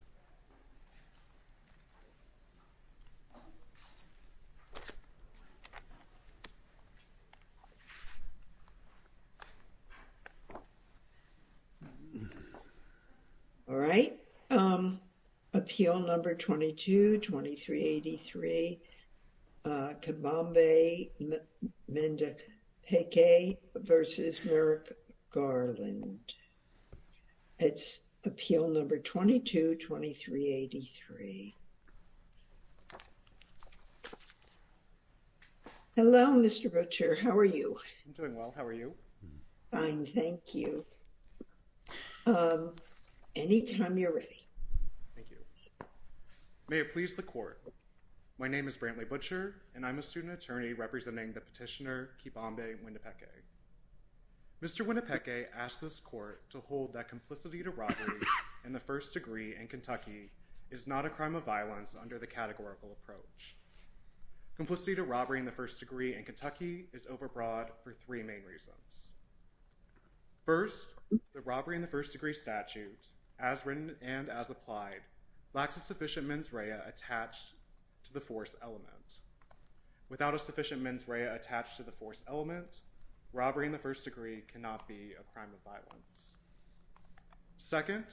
Kibambe Mwendapeke v. Merrick Garland, it's appeal number 22-2383 Kibambe Mwendapeke v. Merrick Garland Kibambe Mwendapeke v. Merrick Garland, it's appeal number 22-2383. Hello Mr. Butcher, how are you? I'm doing well, how are you? Fine, thank you. Anytime you're ready. Thank you. May it please the court. My name is Brantley Butcher, and I'm a student attorney representing the petitioner Kibambe Mwendapeke. Mr. Mwendapeke asked this court to hold that complicity to robbery in the first degree in Kentucky is not a crime of violence under the categorical approach. Complicity to robbery in the first degree in Kentucky is overbroad for three main reasons. First, the robbery in the first degree statute, as written and as applied, lacks a sufficient mens rea attached to the force element. Without a sufficient mens rea attached to the force element, robbery in the first degree cannot be a crime of violence. Second,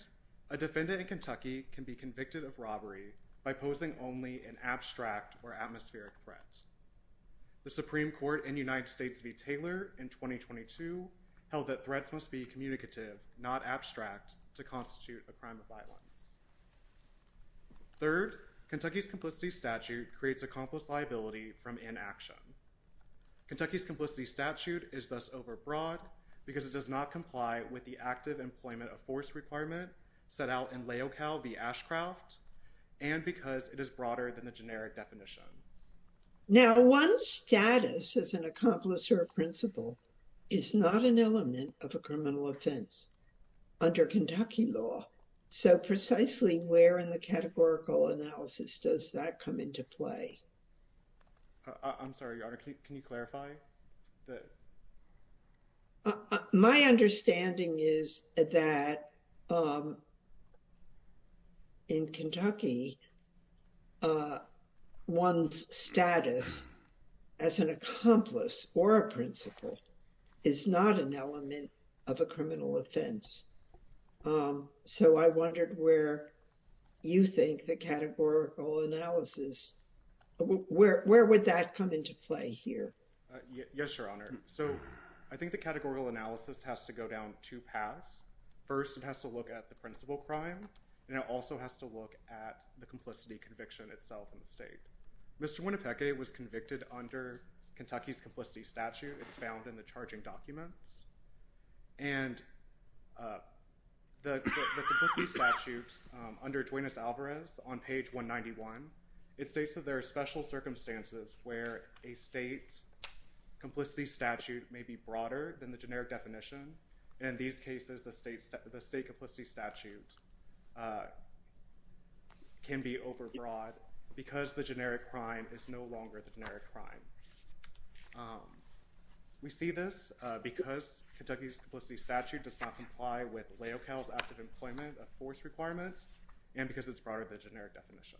a defendant in Kentucky can be convicted of robbery by posing only an abstract or atmospheric threat. The Supreme Court in United States v. Taylor in 2022 held that threats must be communicative, not abstract, to constitute a crime of violence. Third, Kentucky's complicity statute creates accomplice liability from inaction. Kentucky's complicity statute is thus overbroad because it does not comply with the active employment of force requirement set out in Layocal v. Ashcraft, and because it is broader than the generic definition. Now, one's status as an accomplice or a principal is not an element of a criminal offense under Kentucky law. So precisely where in the categorical analysis does that come into play? I'm sorry, Your Honor, can you clarify? My understanding is that in Kentucky, one's status as an accomplice or a principal is not an element of a criminal offense. So I wondered where you think the categorical analysis, where would that come into play here? Yes, Your Honor. So I think the categorical analysis has to go down two paths. First, it has to look at the principal crime, and it also has to look at the complicity conviction itself in the state. Mr. Winnipecke was convicted under Kentucky's complicity statute. It's found in the charging documents. And the complicity statute under Duenas-Alvarez on page 191, it states that there are special circumstances where a state complicity statute may be broader than the generic definition. In these cases, the state complicity statute can be overbroad because the generic crime is no longer the generic crime. We see this because Kentucky's complicity statute does not comply with LAOCAL's active employment of force requirement and because it's broader than the generic definition.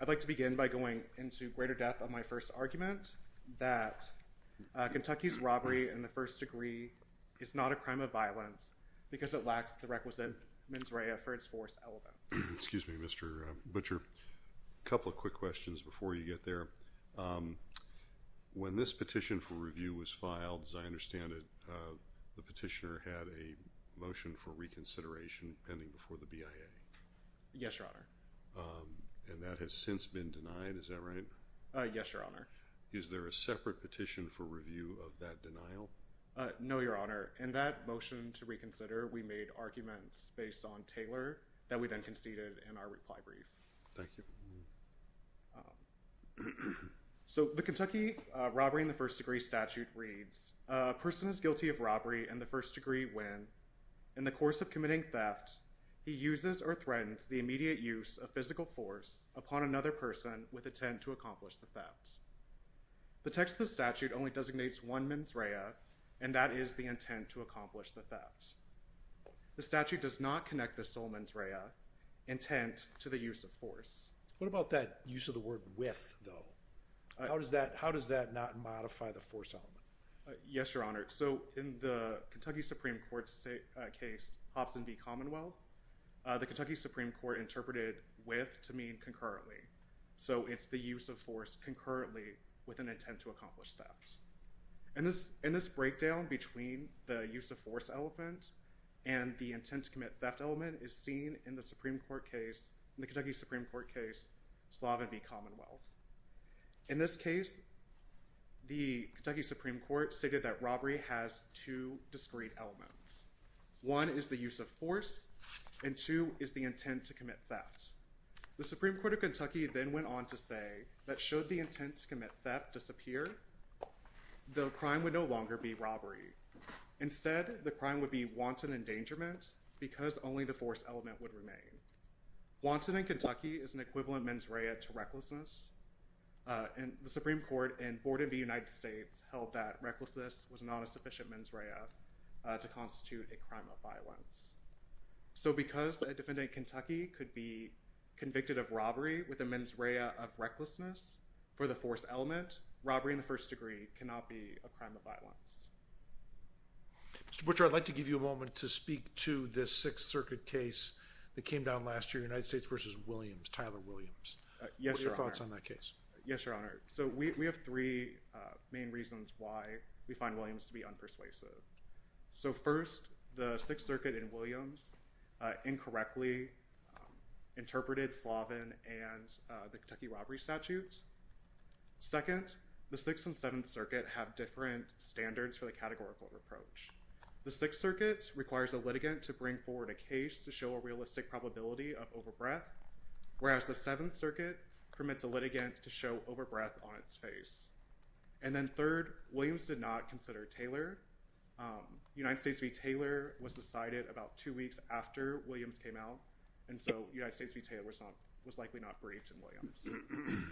I'd like to begin by going into greater depth on my first argument that Kentucky's robbery in the first degree is not a crime of violence because it lacks the requisite mens rea for its force element. Excuse me, Mr. Butcher. A couple of quick questions before you get there. When this petition for review was filed, as I understand it, the petitioner had a motion for reconsideration pending before the BIA. Yes, Your Honor. And that has since been denied, is that right? Yes, Your Honor. Is there a separate petition for review of that denial? No, Your Honor. In that motion to reconsider, we made arguments based on Taylor that we then conceded in our reply brief. Thank you. So the Kentucky robbery in the first degree statute reads, a person is guilty of robbery in the first degree when, in the course of committing theft, he uses or threatens the immediate use of physical force upon another person with intent to accomplish the theft. The text of the statute only designates one mens rea, and that is the intent to accomplish the theft. The statute does not connect the sole mens rea, intent, to the use of force. What about that use of the word with, though? How does that not modify the force element? Yes, Your Honor. So in the Kentucky Supreme Court's case, Hobson v. Commonwealth, the Kentucky Supreme Court interpreted with to mean concurrently. So it's the use of force concurrently with an intent to accomplish theft. In this breakdown between the use of force element and the intent to commit theft element is seen in the Supreme Court case, in the Kentucky Supreme Court case, Slavin v. Commonwealth. In this case, the Kentucky Supreme Court stated that robbery has two discrete elements. One is the use of force, and two is the intent to commit theft. The Supreme Court of Kentucky then went on to say that should the intent to commit theft disappear, the crime would no longer be robbery. Instead, the crime would be wanton endangerment because only the force element would remain. Wanton in Kentucky is an equivalent mens rea to recklessness, and the Supreme Court and Board of the United States held that recklessness was not a sufficient mens rea to constitute a crime of violence. So because a defendant in Kentucky could be convicted of robbery with a mens rea of recklessness for the force element, robbery in the first degree cannot be a crime of violence. Mr. Butcher, I'd like to give you a moment to speak to this Sixth Circuit case that came down last year, United States v. Williams, Tyler Williams. What are your thoughts on that case? Yes, Your Honor. So we have three main reasons why we find Williams to be unpersuasive. So first, the Sixth Circuit in Williams incorrectly interpreted Slavin and the Kentucky robbery statutes. Second, the Sixth and Seventh Circuit have different standards for the categorical reproach. The Sixth Circuit requires a litigant to bring forward a case to show a realistic probability of overbreath, whereas the Seventh Circuit permits a litigant to show overbreath on its face. And then third, Williams did not consider Taylor. United States v. Taylor was decided about two weeks after Williams came out, and so United States v. Taylor was likely not briefed in Williams.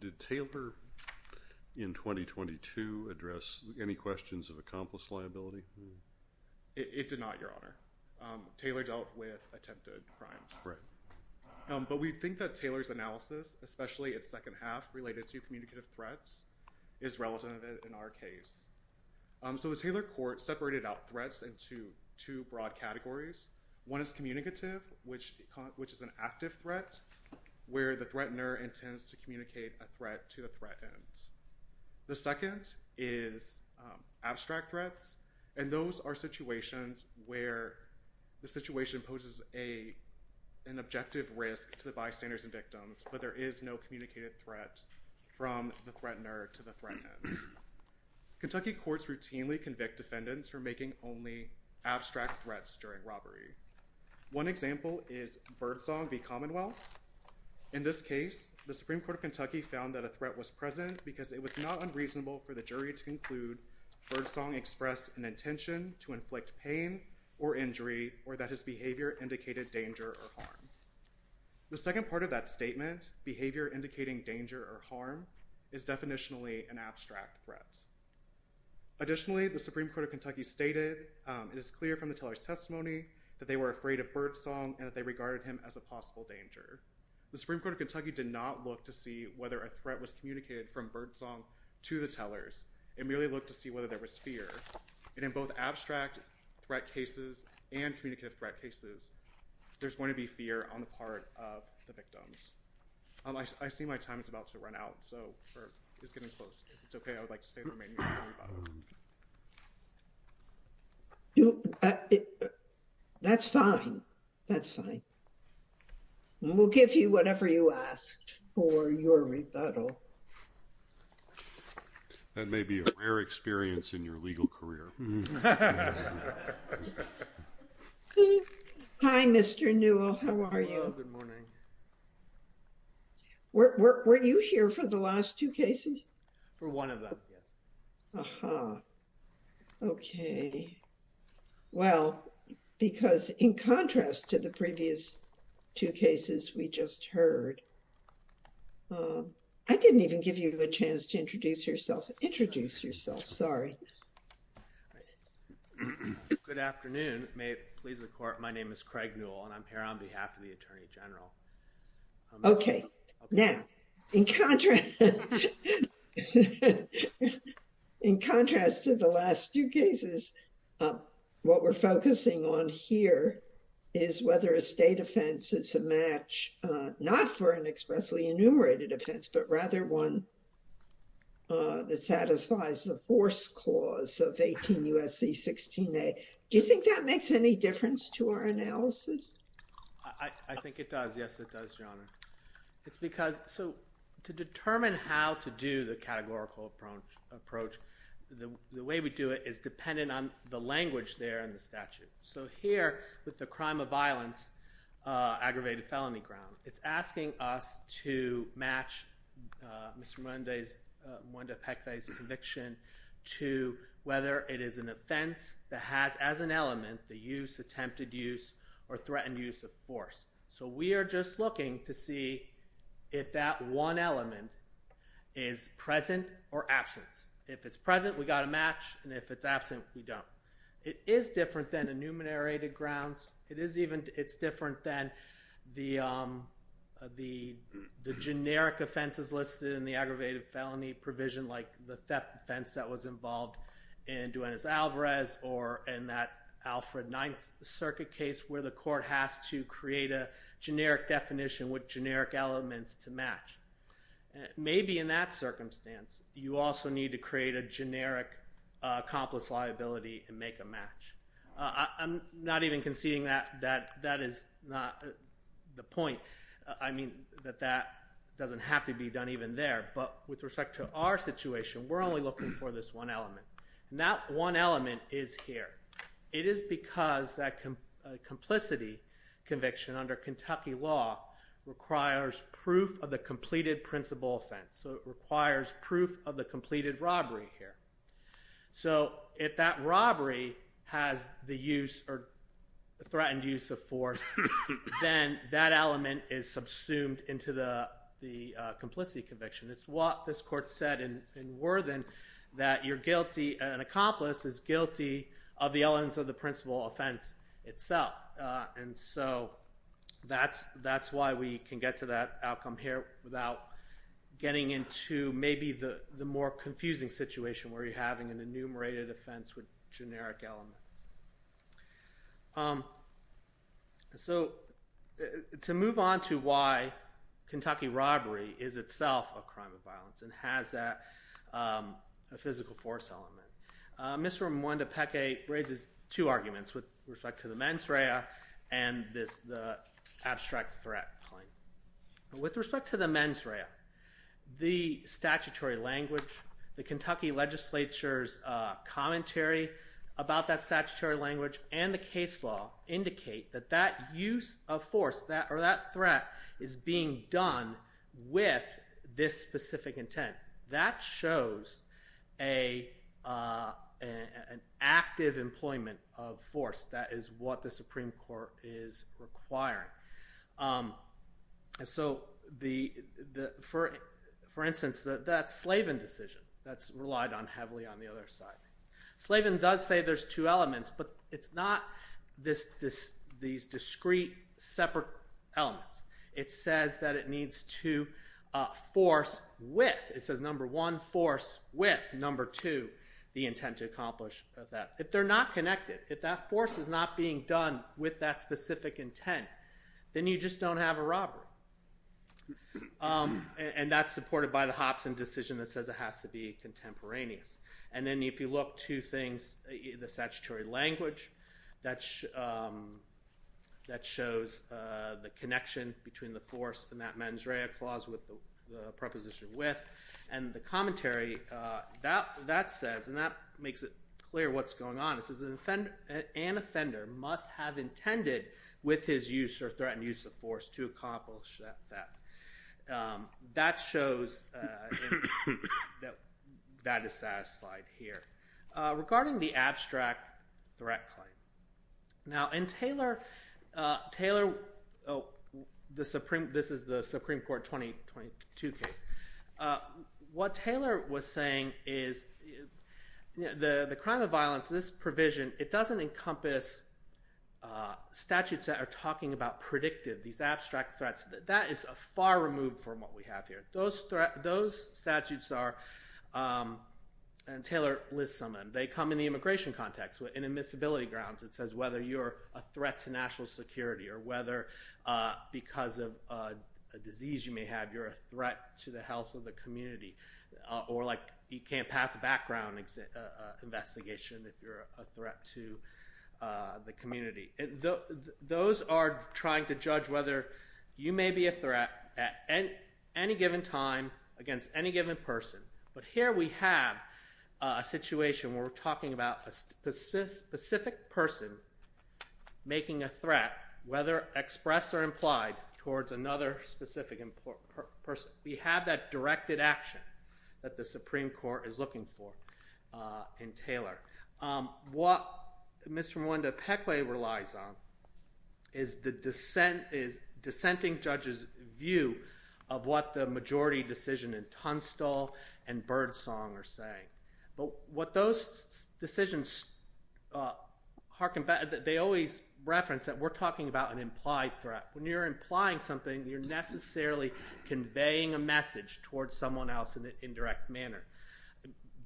Did Taylor in 2022 address any questions of accomplice liability? It did not, Your Honor. Taylor dealt with attempted crimes. Right. But we think that Taylor's analysis, especially its second half related to communicative threats, is relevant in our case. So the Taylor court separated out threats into two broad categories. One is communicative, which is an active threat where the threatener intends to communicate a threat to the threatened. The second is abstract threats, and those are situations where the situation poses an objective risk to the bystanders and victims, but there is no communicative threat from the threatener to the threatened. Kentucky courts routinely convict defendants for making only abstract threats during robbery. One example is Birdsong v. Commonwealth. In this case, the Supreme Court of Kentucky found that a threat was present because it was not unreasonable for the jury to conclude Birdsong expressed an intention to inflict pain or injury or that his behavior indicated danger or harm. The second part of that statement, behavior indicating danger or harm, is definitionally an abstract threat. Additionally, the Supreme Court of Kentucky stated it is clear from the Taylor's testimony that they were afraid of Birdsong and that they regarded him as a possible danger. The Supreme Court of Kentucky did not look to see whether a threat was communicated from Birdsong to the Taylors. It merely looked to see whether there was fear. And in both abstract threat cases and communicative threat cases, there's going to be fear on the part of the victims. I see my time is about to run out, so it's getting close. It's okay. I would like to stay for my rebuttal. That's fine. That's fine. We'll give you whatever you asked for your rebuttal. That may be a rare experience in your legal career. Hi, Mr. Newell. How are you? Good morning. Were you here for the last two cases? For one of them, yes. Uh-huh. Okay. Well, because in contrast to the previous two cases we just heard, I didn't even give you a chance to introduce yourself. Introduce yourself. Sorry. Good afternoon. May it please the court, my name is Craig Newell, and I'm here on behalf of the Attorney General. Okay. Now, in contrast to the last two cases, what we're focusing on here is whether a state offense is a match, not for an expressly enumerated offense, but rather one that satisfies the force clause of 18 U.S.C. 16a. Do you think that makes any difference to our analysis? I think it does. Yes, it does, Your Honor. It's because – so to determine how to do the categorical approach, the way we do it is dependent on the language there in the statute. So here, with the crime of violence, aggravated felony grounds, it's asking us to match Mr. Mwende's – Mwende Pekwe's conviction to whether it is an offense that has as an element the use, attempted use, or threatened use of force. So we are just looking to see if that one element is present or absent. If it's present, we've got a match, and if it's absent, we don't. It is different than enumerated grounds. It is even – it's different than the generic offenses listed in the aggravated felony provision, like the theft offense that was involved in Duenas-Alvarez or in that Alfred Ninth Circuit case where the court has to create a generic definition with generic elements to match. Maybe in that circumstance, you also need to create a generic accomplice liability and make a match. I'm not even conceding that that is not the point. I mean that that doesn't have to be done even there, but with respect to our situation, we're only looking for this one element. And that one element is here. It is because that complicity conviction under Kentucky law requires proof of the completed principal offense. So it requires proof of the completed robbery here. So if that robbery has the use or threatened use of force, then that element is subsumed into the complicity conviction. It's what this court said in Worthen that you're guilty – an accomplice is guilty of the elements of the principal offense itself. And so that's why we can get to that outcome here without getting into maybe the more confusing situation where you're having an enumerated offense with generic elements. So to move on to why Kentucky robbery is itself a crime of violence and has that physical force element, Mr. Mwendepeke raises two arguments with respect to the mens rea and the abstract threat claim. With respect to the mens rea, the statutory language, the Kentucky legislature's commentary about that statutory language and the case law indicate that that use of force or that threat is being done with this specific intent. That shows an active employment of force. That is what the Supreme Court is requiring. For instance, that Slavin decision that's relied on heavily on the other side. Slavin does say there's two elements, but it's not these discrete separate elements. It says that it needs to force with – it says, number one, force with, number two, the intent to accomplish that. If they're not connected, if that force is not being done with that specific intent, then you just don't have a robbery. And that's supported by the Hopson decision that says it has to be contemporaneous. And then if you look to things, the statutory language, that shows the connection between the force and that mens rea clause with the preposition with. And the commentary, that says, and that makes it clear what's going on. It says an offender must have intended with his use or threatened use of force to accomplish that. That shows that that is satisfied here. Regarding the abstract threat claim, now in Taylor – this is the Supreme Court 2022 case. What Taylor was saying is the crime of violence, this provision, it doesn't encompass statutes that are talking about predictive, these abstract threats. That is far removed from what we have here. Those statutes are – and Taylor lists some of them. They come in the immigration context. In admissibility grounds it says whether you're a threat to national security or whether because of a disease you may have you're a threat to the health of the community. Or like you can't pass a background investigation if you're a threat to the community. Those are trying to judge whether you may be a threat at any given time against any given person. But here we have a situation where we're talking about a specific person making a threat, whether expressed or implied, towards another specific person. We have that directed action that the Supreme Court is looking for in Taylor. What Ms. Rwanda Peckway relies on is dissenting judges' view of what the majority decision in Tunstall and Birdsong are saying. But what those decisions – they always reference that we're talking about an implied threat. When you're implying something, you're necessarily conveying a message towards someone else in an indirect manner.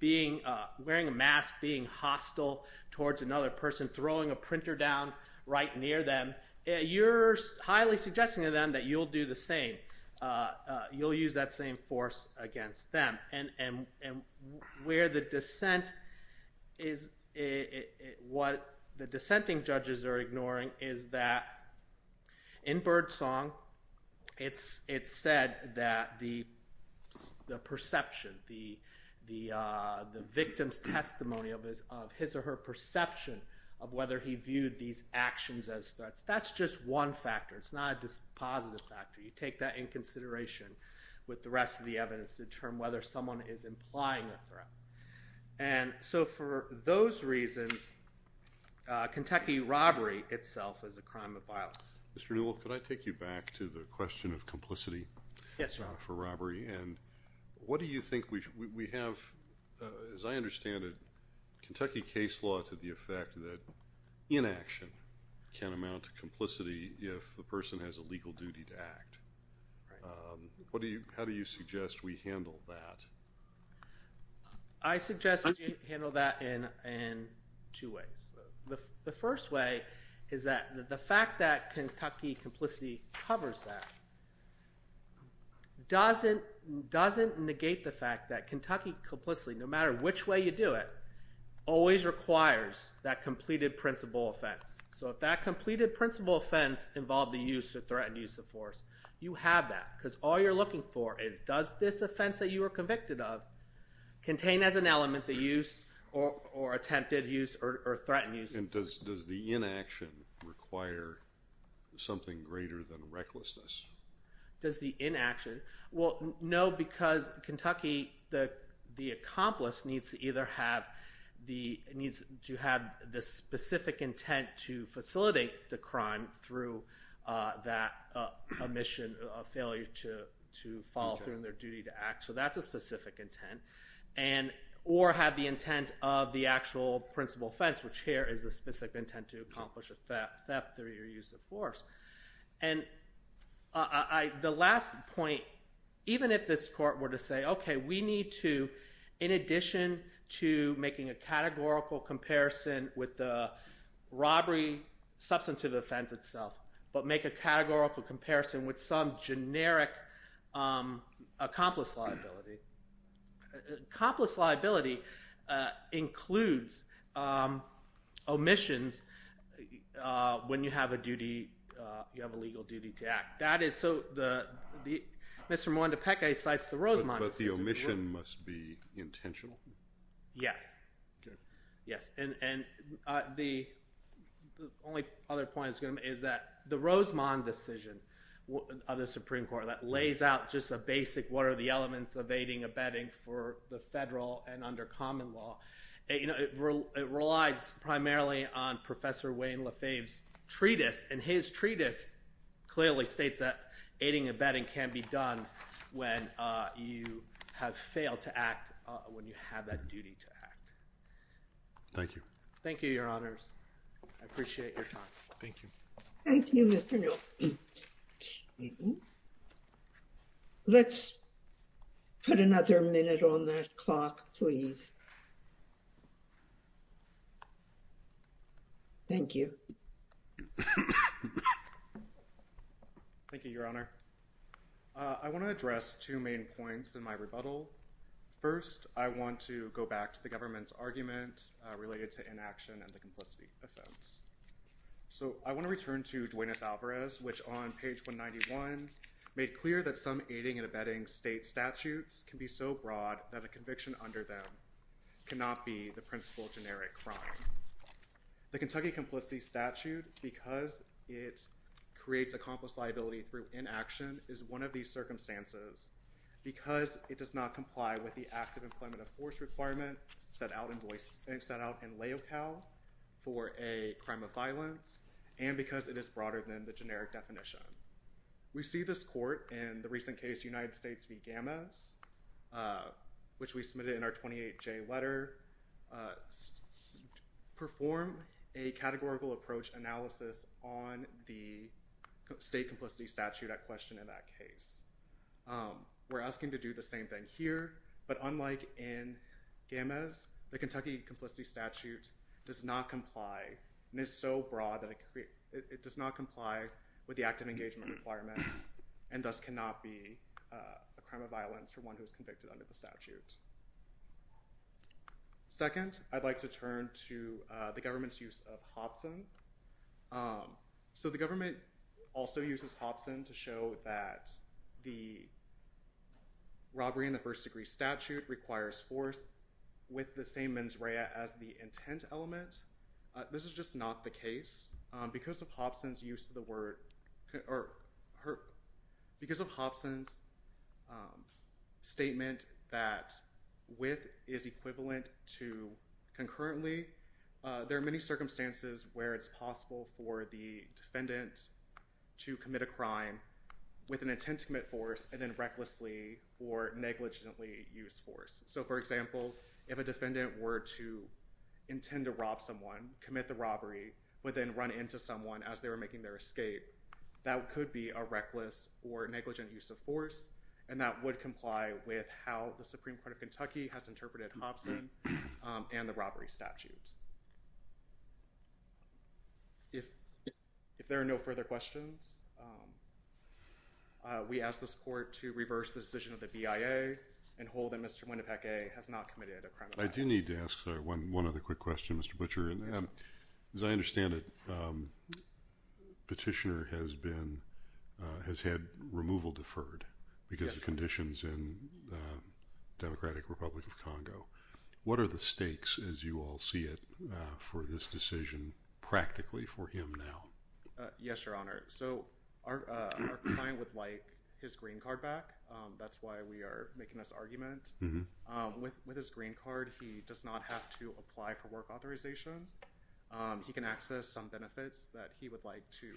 Wearing a mask, being hostile towards another person, throwing a printer down right near them, you're highly suggesting to them that you'll do the same. You'll use that same force against them. What the dissenting judges are ignoring is that in Birdsong, it's said that the perception, the victim's testimony of his or her perception of whether he viewed these actions as threats, that's just one factor. It's not a positive factor. You take that into consideration with the rest of the evidence to determine whether someone is implying a threat. For those reasons, Kentucky robbery itself is a crime of violence. Mr. Newell, could I take you back to the question of complicity for robbery? What do you think we have – as I understand it, Kentucky case law to the effect that inaction can amount to complicity if the person has a legal duty to act. How do you suggest we handle that? I suggest we handle that in two ways. The first way is that the fact that Kentucky complicity covers that doesn't negate the fact that Kentucky complicity, no matter which way you do it, always requires that completed principle offense. So if that completed principle offense involved the use or threatened use of force, you have that because all you're looking for is does this offense that you were convicted of contain as an element the use or attempted use or threatened use of force. Does the inaction require something greater than recklessness? Does the inaction – well, no, because Kentucky, the accomplice needs to either have the specific intent to facilitate the crime through that mission of failure to follow through on their duty to act. So that's a specific intent. Or have the intent of the actual principle offense, which here is a specific intent to accomplish a theft through your use of force. And the last point, even if this court were to say, okay, we need to, in addition to making a categorical comparison with the robbery substantive offense itself, but make a categorical comparison with some generic accomplice liability. Accomplice liability includes omissions when you have a duty – you have a legal duty to act. That is – so the – Mr. Mwandepeke cites the Rosemond decision. But the omission must be intentional? Yes. Okay. Yes, and the only other point is that the Rosemond decision of the Supreme Court that lays out just a basic what are the elements of aiding and abetting for the federal and under common law. It relies primarily on Professor Wayne Lefebvre's treatise, and his treatise clearly states that aiding and abetting can be done when you have failed to act when you have that duty to act. Thank you. Thank you, Your Honors. I appreciate your time. Thank you. Thank you, Mr. Newell. Let's put another minute on that clock, please. Thank you. Thank you, Your Honor. I want to address two main points in my rebuttal. First, I want to go back to the government's argument related to inaction and the complicity offense. So I want to return to Duenas-Alvarez, which on page 191 made clear that some aiding and abetting state statutes can be so broad that a conviction under them cannot be the principal generic crime. The Kentucky complicity statute, because it creates accomplice liability through inaction, is one of these circumstances, because it does not comply with the active employment of force requirement set out in LAOCAL for a crime of violence, and because it is broader than the generic definition. We see this court in the recent case United States v. Gamez, which we submitted in our 28J letter, perform a categorical approach analysis on the state complicity statute at question in that case. We're asking to do the same thing here, but unlike in Gamez, the Kentucky complicity statute does not comply and is so broad that it does not comply with the active engagement requirement and thus cannot be a crime of violence for one who is convicted under the statute. Second, I'd like to turn to the government's use of Hobson. So the government also uses Hobson to show that the robbery in the first degree statute requires force with the same mens rea as the intent element. This is just not the case. Because of Hobson's statement that with is equivalent to concurrently, there are many circumstances where it's possible for the defendant to commit a crime with an intent to commit force and then recklessly or negligently use force. So, for example, if a defendant were to intend to rob someone, commit the robbery, but then run into someone as they were making their escape, that could be a reckless or negligent use of force, and that would comply with how the Supreme Court of Kentucky has interpreted Hobson and the robbery statute. If there are no further questions, we ask the support to reverse the decision of the BIA and hold that Mr. Winnipeg has not committed a crime of violence. I do need to ask one other quick question, Mr. Butcher. As I understand it, Petitioner has had removal deferred because of conditions in the Democratic Republic of Congo. What are the stakes, as you all see it, for this decision practically for him now? Yes, Your Honor. So our client would like his green card back. That's why we are making this argument. With his green card, he does not have to apply for work authorizations. He can access some benefits that he would like to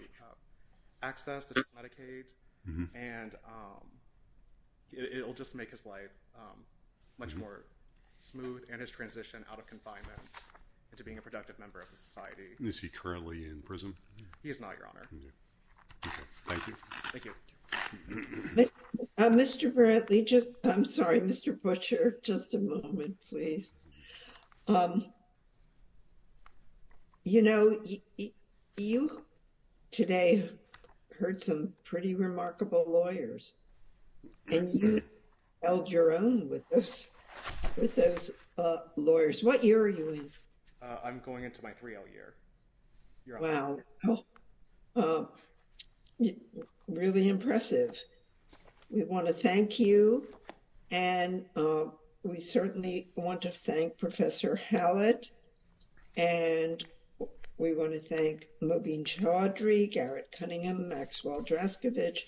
access, such as Medicaid, and it will just make his life much more smooth and his transition out of confinement into being a productive member of the society. Is he currently in prison? He is not, Your Honor. Thank you. Thank you. Mr. Bradley, just—I'm sorry, Mr. Butcher, just a moment, please. You know, you today heard some pretty remarkable lawyers, and you held your own with those lawyers. What year are you in? I'm going into my 3L year, Your Honor. Wow. Really impressive. We want to thank you, and we certainly want to thank Professor Hallett, and we want to thank Mobine Chaudhry, Garrett Cunningham, Maxwell Draskovic,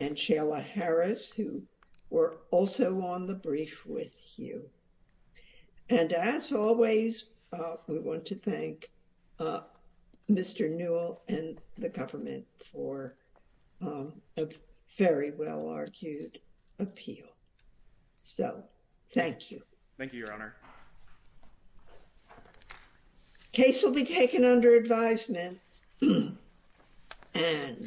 and Shayla Harris, who were also on the brief with you. And as always, we want to thank Mr. Newell and the government for a very well-argued appeal. So, thank you. Thank you, Your Honor. The case will be taken under advisement.